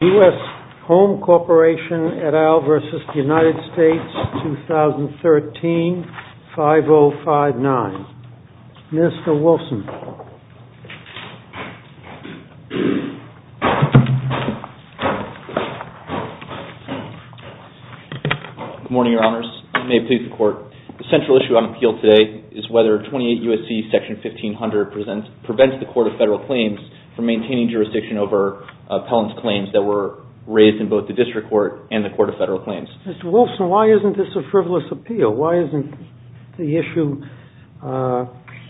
2013, 5059. Mr. Wilson. Good morning, Your Honors. May it please the Court. The central issue on appeal today is whether 28 U.S.C. Section 1500 prevents the Court of Federal Claims from maintaining jurisdiction over Pelham's claims that were raised in both the District Court and the Court of Federal Claims. Mr. Wilson, why isn't this a frivolous appeal? Why isn't the issue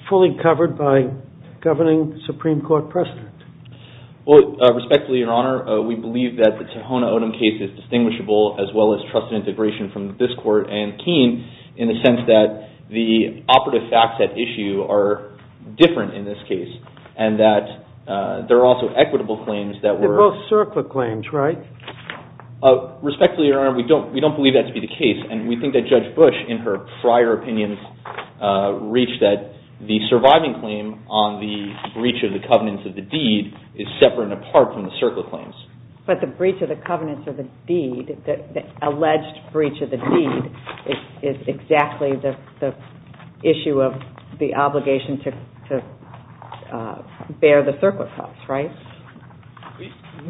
fully covered by governing Supreme Court precedent? Well, respectfully, Your Honor, we believe that the Tohono O'odham case is distinguishable as well as trusted integration from this Court and Keene in the sense that the operative facts at issue are different in this case and that there are also equitable claims that were... They're both circler claims, right? Respectfully, Your Honor, we don't believe that to be the case, and we think that Judge Bush, in her prior opinions, reached that the surviving claim on the breach of the covenants of the deed is separate and apart from the circler claims. But the breach of the covenants of the deed, the alleged breach of the deed, is exactly the issue of the obligation to bear the circler costs, right?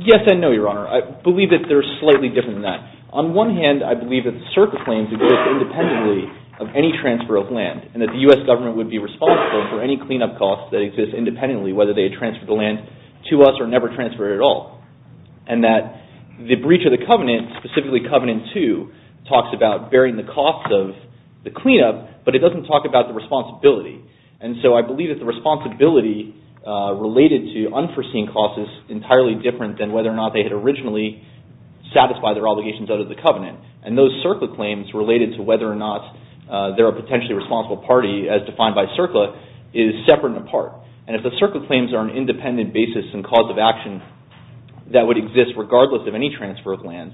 Yes and no, Your Honor. I believe that they're slightly different than that. On one hand, I believe that the circler claims exist independently of any transfer of land and that the U.S. Government would be responsible for any cleanup costs that exist independently, whether they transfer the land to us or never transfer it at all. And that the breach of the covenant, specifically Covenant 2, talks about bearing the costs of the cleanup, but it doesn't talk about the responsibility. And so I believe that the responsibility related to unforeseen costs is entirely different than whether or not they had originally satisfied their obligations under the covenant. And those circler claims related to whether or not they're a potentially responsible party, as defined by circler, is separate and apart. And if the circler claims are an independent basis and cause of action that would exist regardless of any transfer of land,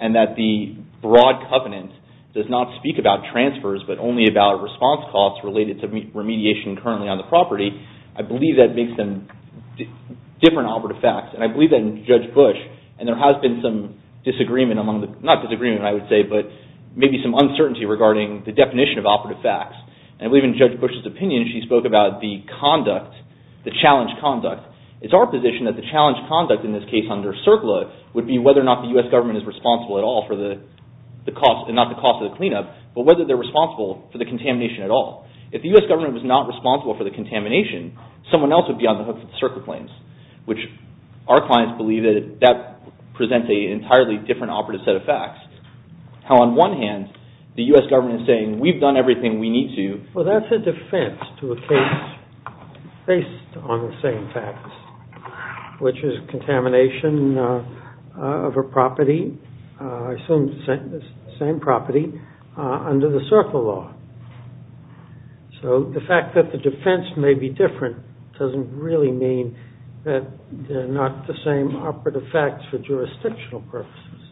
and that the broad covenant does not speak about transfers but only about response costs related to remediation currently on the property, I believe that makes them different operative facts. And I believe that in Judge Bush, and there has been some disagreement among the, not disagreement I would say, but maybe some uncertainty regarding the definition of operative facts. And I believe in Judge Bush he spoke about the conduct, the challenge conduct. It's our position that the challenge conduct in this case under circler would be whether or not the U.S. government is responsible at all for the cost, not the cost of the cleanup, but whether they're responsible for the contamination at all. If the U.S. government was not responsible for the contamination, someone else would be on the hook for the circler claims, which our clients believe that presents an entirely different operative set of facts. How on one hand, the U.S. government is saying, we've done everything we need to. Well, that's a defense to a case based on the same facts, which is contamination of a property, I assume the same property, under the circler law. So the fact that the defense may be different doesn't really mean that they're not the same operative facts for jurisdictional purposes.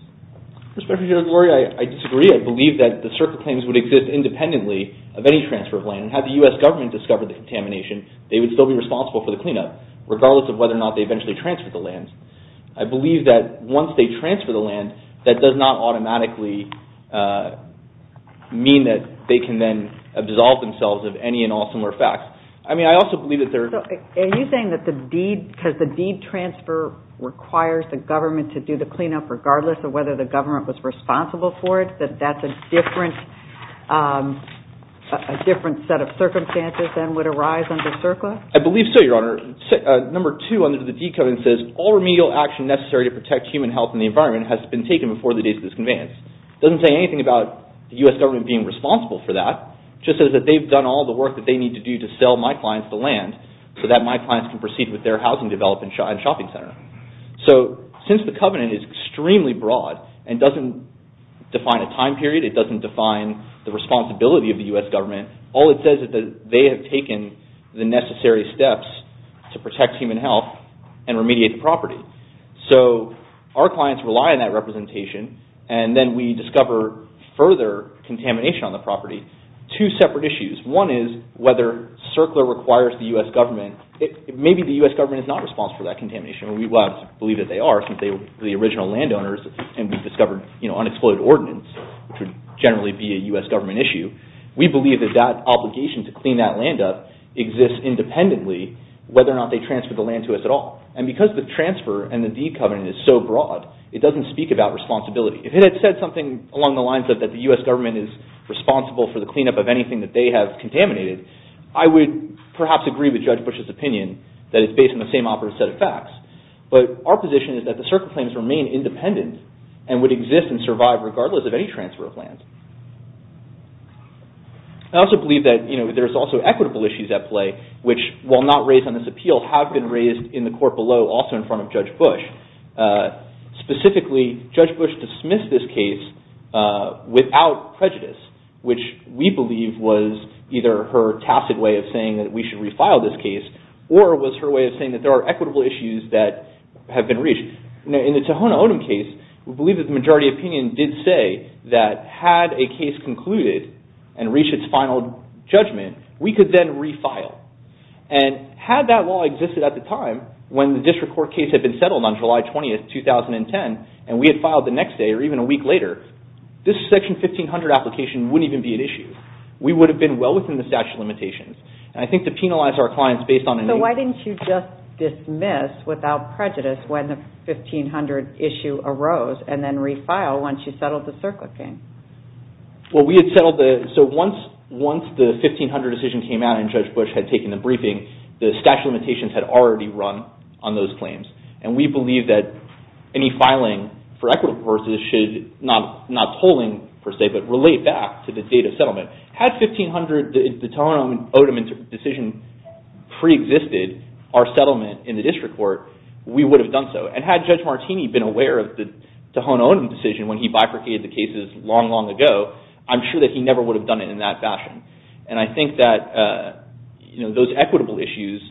Mr. Judge Lurie, I disagree. I believe that the circler claims would exist independently of any transfer of land. Had the U.S. government discovered the contamination, they would still be responsible for the cleanup, regardless of whether or not they eventually transferred the land. I believe that once they transfer the land, that does not automatically mean that they can then absolve themselves of any and all similar facts. I mean, I also believe that there's... So, are you saying that the deed, because the deed transfer requires the government to do the cleanup regardless of whether the government was responsible for it, that that's a different set of circumstances than would arise under circler? I believe so, Your Honor. Number two under the deed covenant says, all remedial action necessary to protect human health and the environment has been taken before the date of this conveyance. It doesn't say anything about the U.S. government being responsible for that. It just says that they've done all the work that they need to do to sell my clients the land so that my clients can proceed with their housing development and shopping center. So, since the covenant is extremely broad and doesn't define a time period, it doesn't define the responsibility of the U.S. government, all it says is that they have taken the necessary steps to protect human health and remediate the property. So, our clients rely on that representation and then we discover further contamination on the property. Two separate issues. One is whether circler requires the U.S. government. Maybe the U.S. government is not responsible for that contamination. We believe that they are since they were the original landowners and we've discovered unexploded ordinance, which would generally be a U.S. government issue. We believe that that obligation to clean that land up exists independently whether or not they transfer the land to us at all. And because the transfer and the deed covenant is so broad, it doesn't speak about responsibility. If it had said something along the lines of that the U.S. government is responsible for the cleanup of anything that they have contaminated, I would perhaps agree with Judge Bush's opinion that it's based on the same operative set of facts. But our position is that the circler claims remain independent and would exist and survive regardless of any transfer of land. I also believe that there's also equitable issues at play, which will not raise on this appeal, have been raised in the court below also in front of Judge Bush. Specifically, Judge Bush dismissed this case without prejudice, which we believe was either her tacit way of saying that we should refile this case or was her way of saying that there are equitable issues that have been reached. In the Tohono O'odham case, we believe that the majority opinion did say that had a case concluded and reached its final judgment, we could then refile. And had that law existed at the time when the district court case had been settled on July 20th, 2010, and we had filed the next day or even a week later, this Section 1500 application wouldn't even be an issue. We would have been well within the statute of limitations. And I think to penalize our clients based on any... So why didn't you just dismiss without prejudice when the 1500 issue arose and then refile once you settled the circler claim? Well, we had settled the... So once the 1500 decision came out and Judge Bush had taken the briefing, the statute of limitations had already run on those claims. And we believe that any filing for equitable purposes should, not polling per se, but relate back to the date of settlement. Had 1500, the Tohono O'odham decision pre-existed our settlement in the district court, we would have done so. And had Judge Martini been aware of the Tohono O'odham decision when he bifurcated the cases long, long ago, I'm sure that he never would have done it in that fashion. And I think that those equitable issues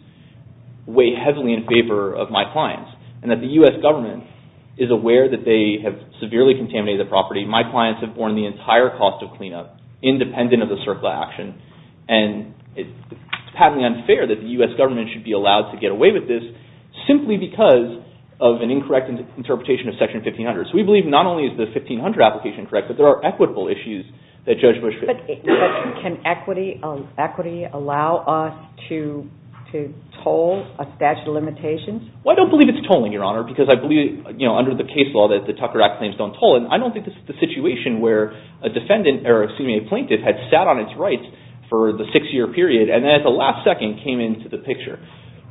weigh heavily in favor of my clients. And that the U.S. government is aware that they have severely contaminated the property. My clients have borne the entire cost of cleanup independent of the circular action. And it's patently unfair that the U.S. government should be allowed to get away with this simply because of an incorrect interpretation of Section 1500. So we believe not only is the 1500 application correct, but there are equitable issues that Judge Bush... But can equity allow us to toll a statute of limitations? Well, I don't believe it's tolling, Your Honor, because I believe, you know, under the case law that the Tucker Act claims don't toll. And I don't think this is the situation where a defendant, or excuse me, a plaintiff had sat on its rights for the six-year period and then at the last second came into the picture.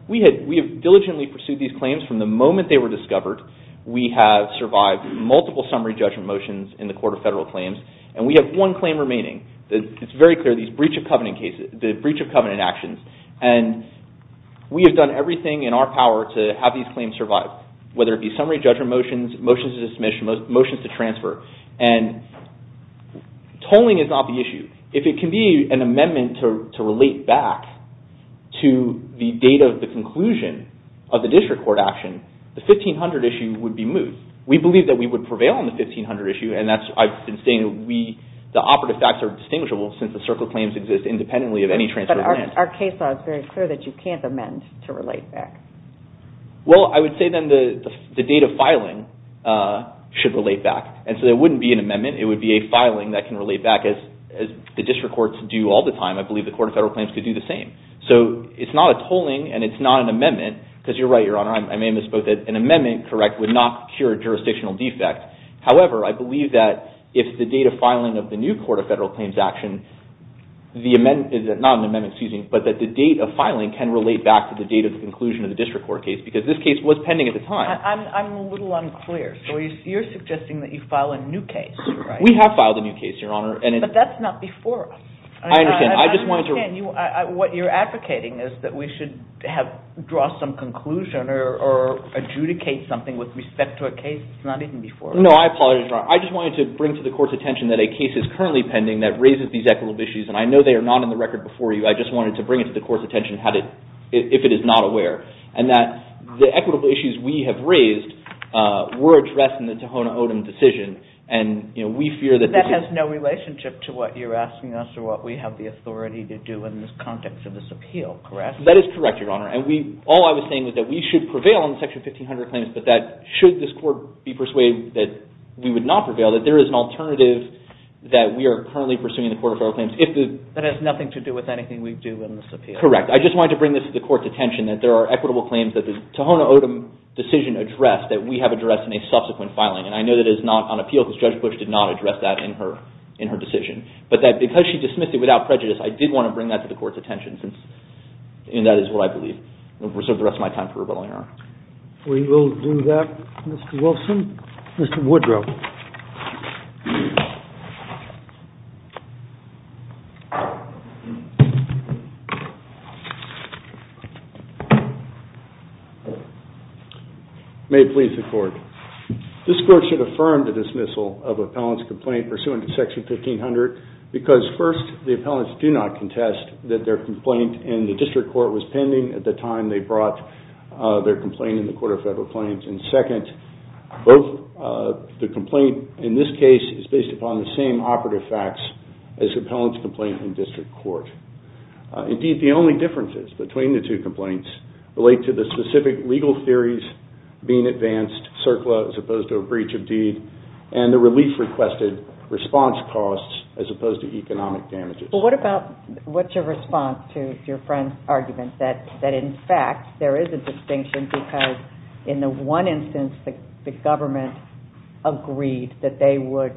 We have diligently pursued these claims from the moment they were discovered. We have survived multiple summary judgment motions in the Court of Federal Claims. And we have one claim remaining. It's very clear, these breach of covenant cases, the breach of covenant actions. And we have done everything in our power to have these claims survive, whether it be summary judgment motions, motions to dismiss, motions to transfer. And tolling is not the issue. If it can be an amendment to relate back to the date of the conclusion of the district court action, the 1500 issue would be moved. We believe that we would prevail on the 1500 issue. And that's, I've been saying, the operative facts are distinguishable since the circle claims exist independently of any transfer of land. But our case law is very clear that you can't amend to relate back. Well, I would say then the date of filing should relate back. And so there wouldn't be an amendment. It would be a filing that can relate back, as the district courts do all the time. I believe the Court of Federal Claims could do the same. So it's not a tolling and it's not an amendment, because you're right, Your Honor, I may have misspoken. An amendment would not cure a jurisdictional defect. However, I believe that if the date of filing of the new Court of Federal Claims action, not an amendment, excuse me, but that the date of filing can relate back to the date of the conclusion of the district court case, because this case was pending at the time. I'm a little unclear. So you're suggesting that you file a new case, you're right. We have filed a new case, Your Honor. But that's not before us. I understand. I just wanted to... What you're advocating is that we should draw some conclusion or adjudicate something with respect to a case that's not even before us. No, I apologize, Your Honor. I just wanted to bring to the Court's attention that a case is currently pending that raises these equitable issues, and I know they are not on the record before you. I just wanted to bring it to the Court's attention if it is not aware, and that the equitable issues we have raised were addressed in the Tohono O'odham decision, and we fear that... But that has no relationship to what you're asking us or what we have the authority to do in this context of this appeal, correct? That is correct, Your Honor. And all I was saying was that we should prevail on the Section 1500 claims, but that should this Court be persuaded that we would not prevail, that there is an alternative that we are currently pursuing in the Court of Federal Claims if the... That has nothing to do with anything we do in this appeal. Correct. I just wanted to bring this to the Court's attention that there are equitable claims that the Tohono O'odham decision addressed that we have addressed in a subsequent filing, and I know that it is not on appeal because Judge Bush did not address that in her decision. But that because she dismissed it without prejudice, I did want to bring that to the Court's attention, and that is what I believe. I'll reserve the rest of my time for rebuttal, Your Honor. We will do that, Mr. Wilson. Mr. Woodrow. May it please the Court. This Court should affirm the dismissal of appellant's complaint pursuant to Section 1500 because, first, the appellants do not contest that their complaint in the District Court was pending at the time they brought their complaint in the Court of Federal Claims, and, second, both the complaint in this case is based upon the same operative facts as appellant's complaint in District Court. Indeed, the only differences between the two complaints relate to the specific legal theories being advanced, CERCLA as opposed to a breach of deed, and the relief requested response costs as opposed to economic damages. But what about, what's your response to your friend's argument that, in fact, there is a distinction because, in the one instance, the government agreed that they would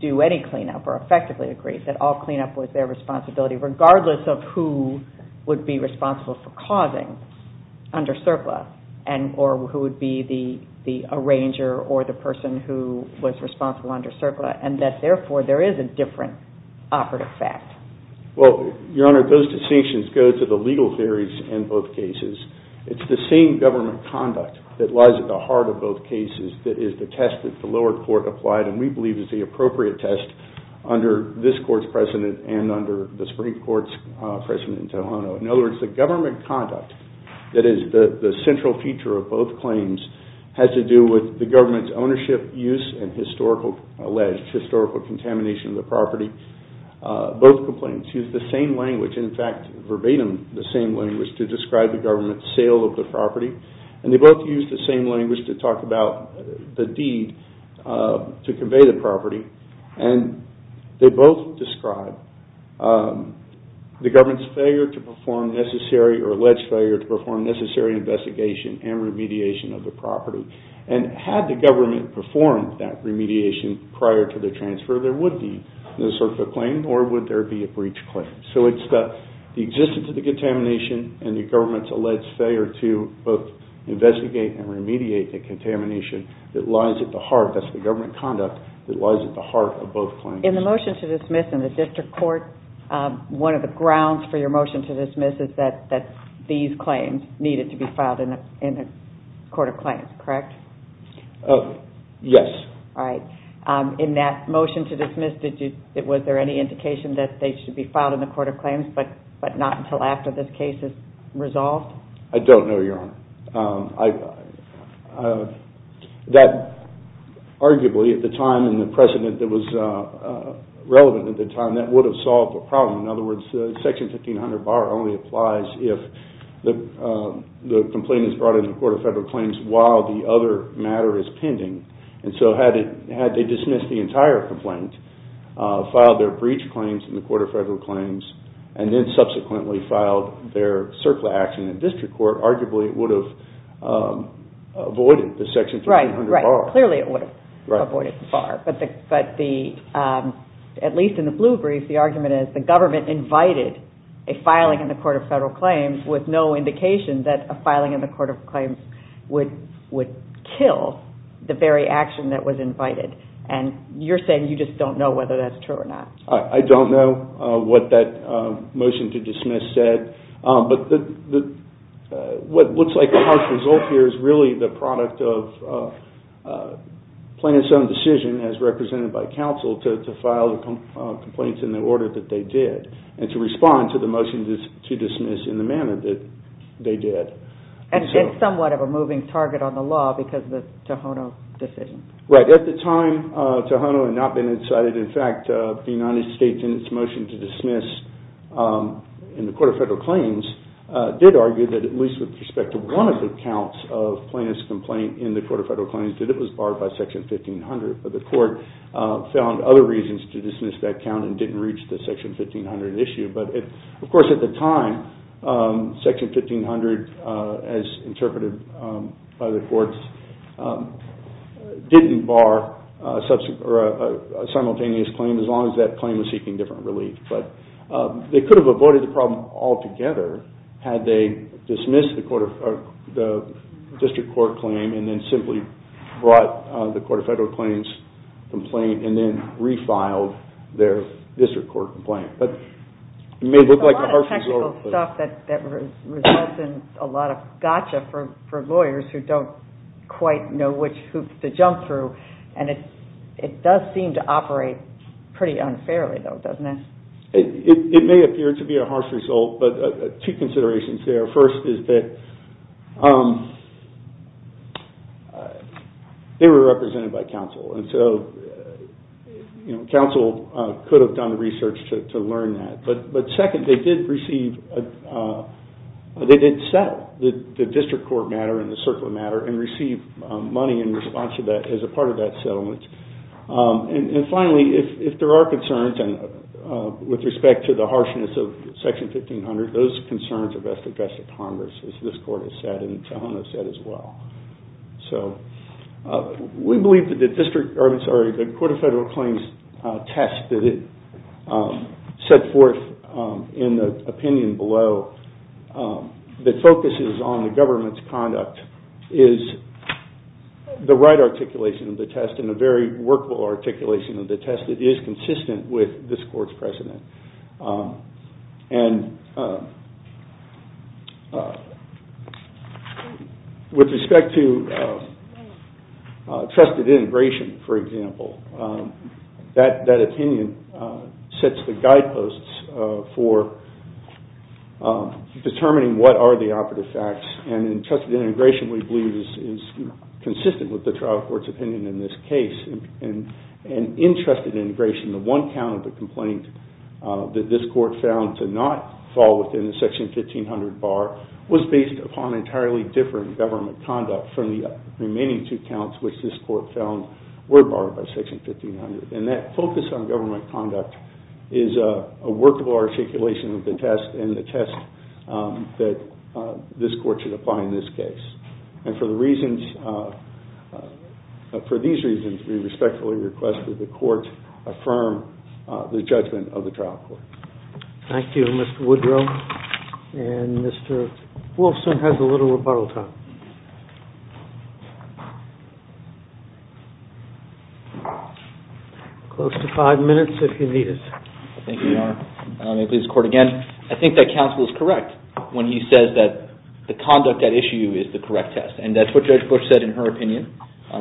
do any cleanup or effectively agreed that all cleanup was their responsibility, regardless of who would be responsible for causing under CERCLA, or who would be the arranger or the person who was responsible under CERCLA, and that, therefore, there is a different operative fact? Well, Your Honor, those distinctions go to the legal theories in both cases. It's the same government conduct that lies at the heart of both cases that is the test that the lower court applied and we believe is the appropriate test under this Court's precedent and under the Supreme Court's precedent in Tohono. In other words, the government conduct that is the central feature of both claims has to do with the government's ownership, use, and historical alleged, historical contamination of the property. Both complaints use the same language, in fact, verbatim, the same language to describe the government's sale of the property and they both use the same language to talk about the deed to convey the property and they both describe the government's failure to perform necessary or alleged failure to perform necessary investigation and remediation of the property. And had the government performed that remediation prior to the transfer, there would be no CERCLA claim or would there be a breach claim. So it's the existence of the contamination and the government's alleged failure to both investigate and remediate the contamination that lies at the heart, that's the government conduct, that lies at the heart of both claims. In the motion to dismiss in the District Court, one of the grounds for your motion to dismiss is that these claims needed to be filed in the Court of Claims, correct? Yes. In that motion to dismiss, was there any indication that they should be filed in the Court of Claims but not until after this case is resolved? I don't know, Your Honor. Arguably, at the time and the precedent that was relevant at the time, that would have solved the problem. In other words, Section 1500-BAR only applies if the complaint is brought in the Court of Federal Claims while the other matter is pending. And so had they dismissed the entire complaint, filed their breach claims in the Court of Federal Claims, and then subsequently filed their CERCLA action in the District Court, arguably it would have avoided the Section 1500-BAR. Right, clearly it would have avoided BAR. But at least in the blue brief, the argument invited a filing in the Court of Federal Claims with no indication that a filing in the Court of Claims would kill the very action that was invited. And you're saying you just don't know whether that's true or not. I don't know what that motion to dismiss said, but what looks like the harsh result here is really the product of plaintiff's own decision as to respond to the motion to dismiss in the manner that they did. And somewhat of a moving target on the law because of the Tohono decision. Right, at the time, Tohono had not been incited. In fact, the United States, in its motion to dismiss in the Court of Federal Claims, did argue that at least with respect to one of the counts of plaintiff's complaint in the Court of Federal Claims, that it was barred by Section 1500. But the Court found other reasons to dismiss that count and didn't reach the Section 1500 issue. But of course at the time, Section 1500, as interpreted by the courts, didn't bar a simultaneous claim as long as that claim was seeking different relief. But they could have avoided the problem altogether had they dismissed the District Court claim and then simply brought the Court of Federal Claims complaint and then refiled their District Court complaint. But it may look like a harsh result. It's a lot of technical stuff that results in a lot of gotcha for lawyers who don't quite know which hoops to jump through. And it does seem to operate pretty unfairly though, doesn't it? It may appear to be a harsh result, but two considerations there. First is that they were represented by counsel. And so counsel could have done research to learn that. But second, they did receive, they did settle the District Court matter and the Circular matter and receive money in response to that as a part of that settlement. And finally, if there are concerns with respect to the harshness of Section 1500, those concerns are best addressed at Congress, as this Court has said and Tohono has said as well. So we believe that the District, or I'm sorry, the Court of Federal Claims test that it set forth in the opinion below that focuses on the government's conduct is the right articulation of the test and a very workable articulation of the test that is consistent with this Court's precedent. And with respect to trusted integration, for example, that opinion sets the guideposts for determining what are the operative facts. And in trusted integration we believe is consistent with the trial court's opinion in this case. And in trusted integration, the one count of the complaint that this Court found to not fall within the Section 1500 bar was based upon entirely different government conduct from the remaining two counts which this Court found were barred by Section 1500. And that focus on government conduct is a workable articulation of the test and the test that this Court should apply in this case. And for the reasons, for these reasons, we respectfully request that the Court affirm the judgment of the trial court. Thank you, Mr. Woodrow. And Mr. Wolfson has a little rebuttal time. Close to five minutes if you need it. Thank you, Your Honor. I may please the Court again. I think that counsel is correct when he says that the conduct at issue is the correct test. And that's what Judge Bush said in her testimony. The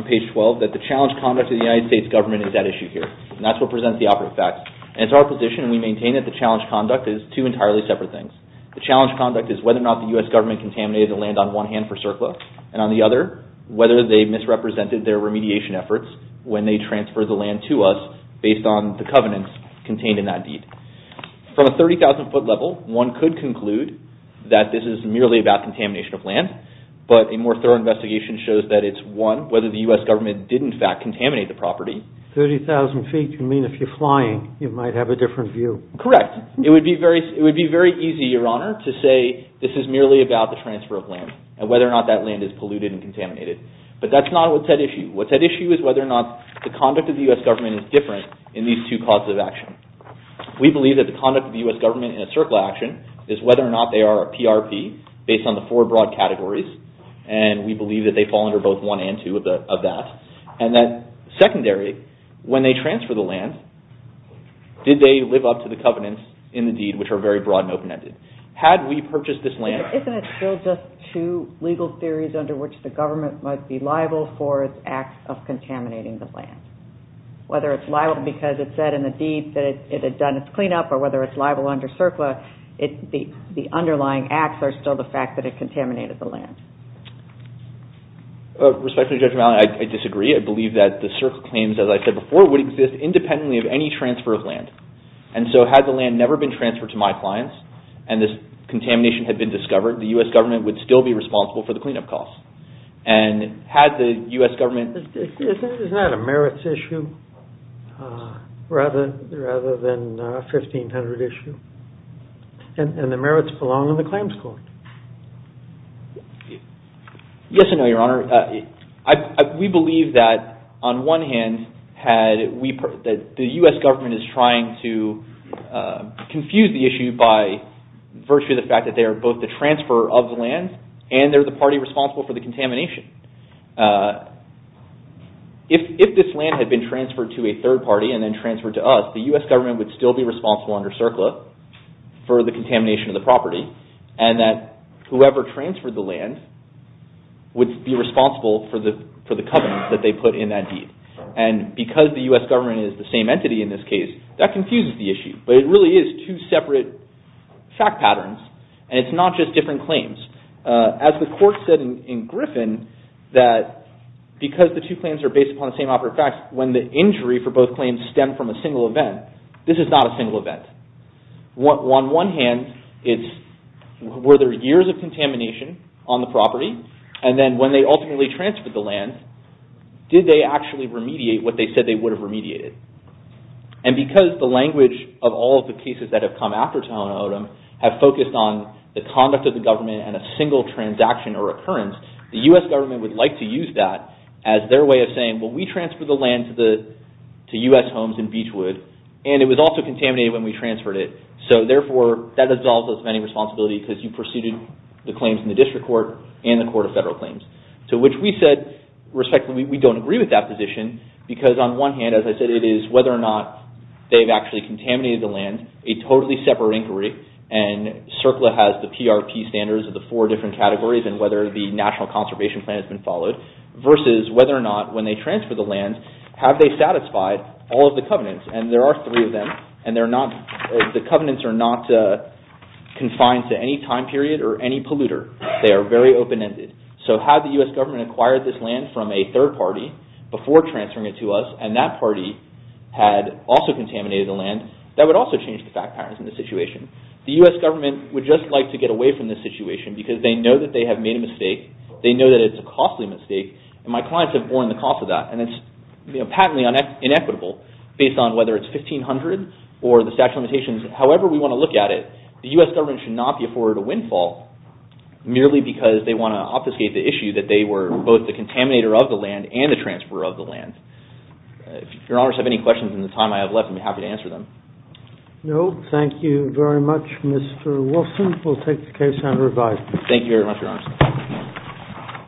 United States government is at issue here. And that's what presents the operative facts. And it's our position and we maintain that the challenge conduct is two entirely separate things. The challenge conduct is whether or not the U.S. government contaminated the land on one hand for CERCLA and on the other whether they misrepresented their remediation efforts when they transferred the land to us based on the covenants contained in that deed. From a 30,000 foot level, one could conclude that this is merely about contamination of land. But a more thorough investigation shows that it's one, whether the U.S. government did in fact contaminate the property. 30,000 feet, you mean if you're flying, you might have a different view. Correct. It would be very easy, Your Honor, to say this is merely about the transfer of land and whether or not that land is polluted and contaminated. But that's not what's at issue. What's at issue is whether or not the conduct of the U.S. government is different in these two causes of action. We believe that the conduct of the U.S. government in a CERCLA action is whether or not they are a PRP based on the four broad categories. And we believe that they fall under both one and two of that. And then secondary, when they transfer the land, did they live up to the covenants in the deed, which are very broad and open-ended? Had we purchased this land... But isn't it still just two legal theories under which the government might be liable for its acts of contaminating the land? Whether it's liable because it said in the deed that it had done its cleanup or whether it's liable under CERCLA, the underlying acts are still the fact that it contaminated the land. Respectfully, Judge Malin, I disagree. I believe that the CERCLA claims, as I said before, would exist independently of any transfer of land. And so had the land never been transferred to my clients and this contamination had been discovered, the U.S. government would still be responsible for the cleanup costs. And had the U.S. government... Isn't that a merits issue rather than a 1500 issue? And the merits belong in the claims court. Yes and no, Your Honor. We believe that, on one hand, that the U.S. government is trying to confuse the issue by virtue of the fact that they are both the transfer of the land and they're the party responsible for the contamination. If this land had been transferred to a third party and then transferred to us, the U.S. government would still be responsible under CERCLA for the contamination of the property and that whoever transferred the land would be responsible for the covenants that they put in that deed. And because the U.S. government is the same entity in this case, that confuses the issue. But it really is two separate fact patterns and it's not just different claims. As the court said in Griffin, that because the two claims are based upon the same operative facts, when the injury for both claims stem from a single event, this is not a single event. On one hand, were there years of contamination on the property? And then when they ultimately transferred the land, did they actually remediate what they said they would have remediated? And because the language of all of the cases that have come after Tohono O'odham have focused on the conduct of the government and a single transaction or occurrence, the U.S. government would like to use that as their way of saying, well we transferred the land to U.S. homes in Beechwood and it was also contaminated when we transferred it. So therefore, that absolves us of any responsibility because you pursued the claims in the district court and the court of federal claims. To which we said, respectfully, we don't agree with that position because on one hand, as I said, it is whether or not they've actually contaminated the land, a totally separate inquiry and CERCLA has the PRP standards of the four different categories and whether the National Conservation Plan has been followed, versus whether or not when they transferred the land, have they satisfied all of the covenants? And there are three of them, and the covenants are not confined to any time period or any polluter. They are very open-ended. So had the U.S. government acquired this land from a third party before transferring it to us and that party had also contaminated the land, that would also change the fact patterns in the situation. The U.S. government would just like to get away from this situation because they know that they have made a mistake, they know that it's a costly mistake, and my clients have borne the cost of that, and it's patently inequitable based on whether it's $1,500 or the statute of limitations. However we want to look at it, the U.S. government should not be afforded a windfall merely because they want to obfuscate the issue that they were both the contaminator of the land and the transfer of the land. If your honors have any questions in the time I have left, I'd be happy to answer them. No, thank you very much, Mr. Wilson. We'll take the case and revise it. Thank you very much, your honors.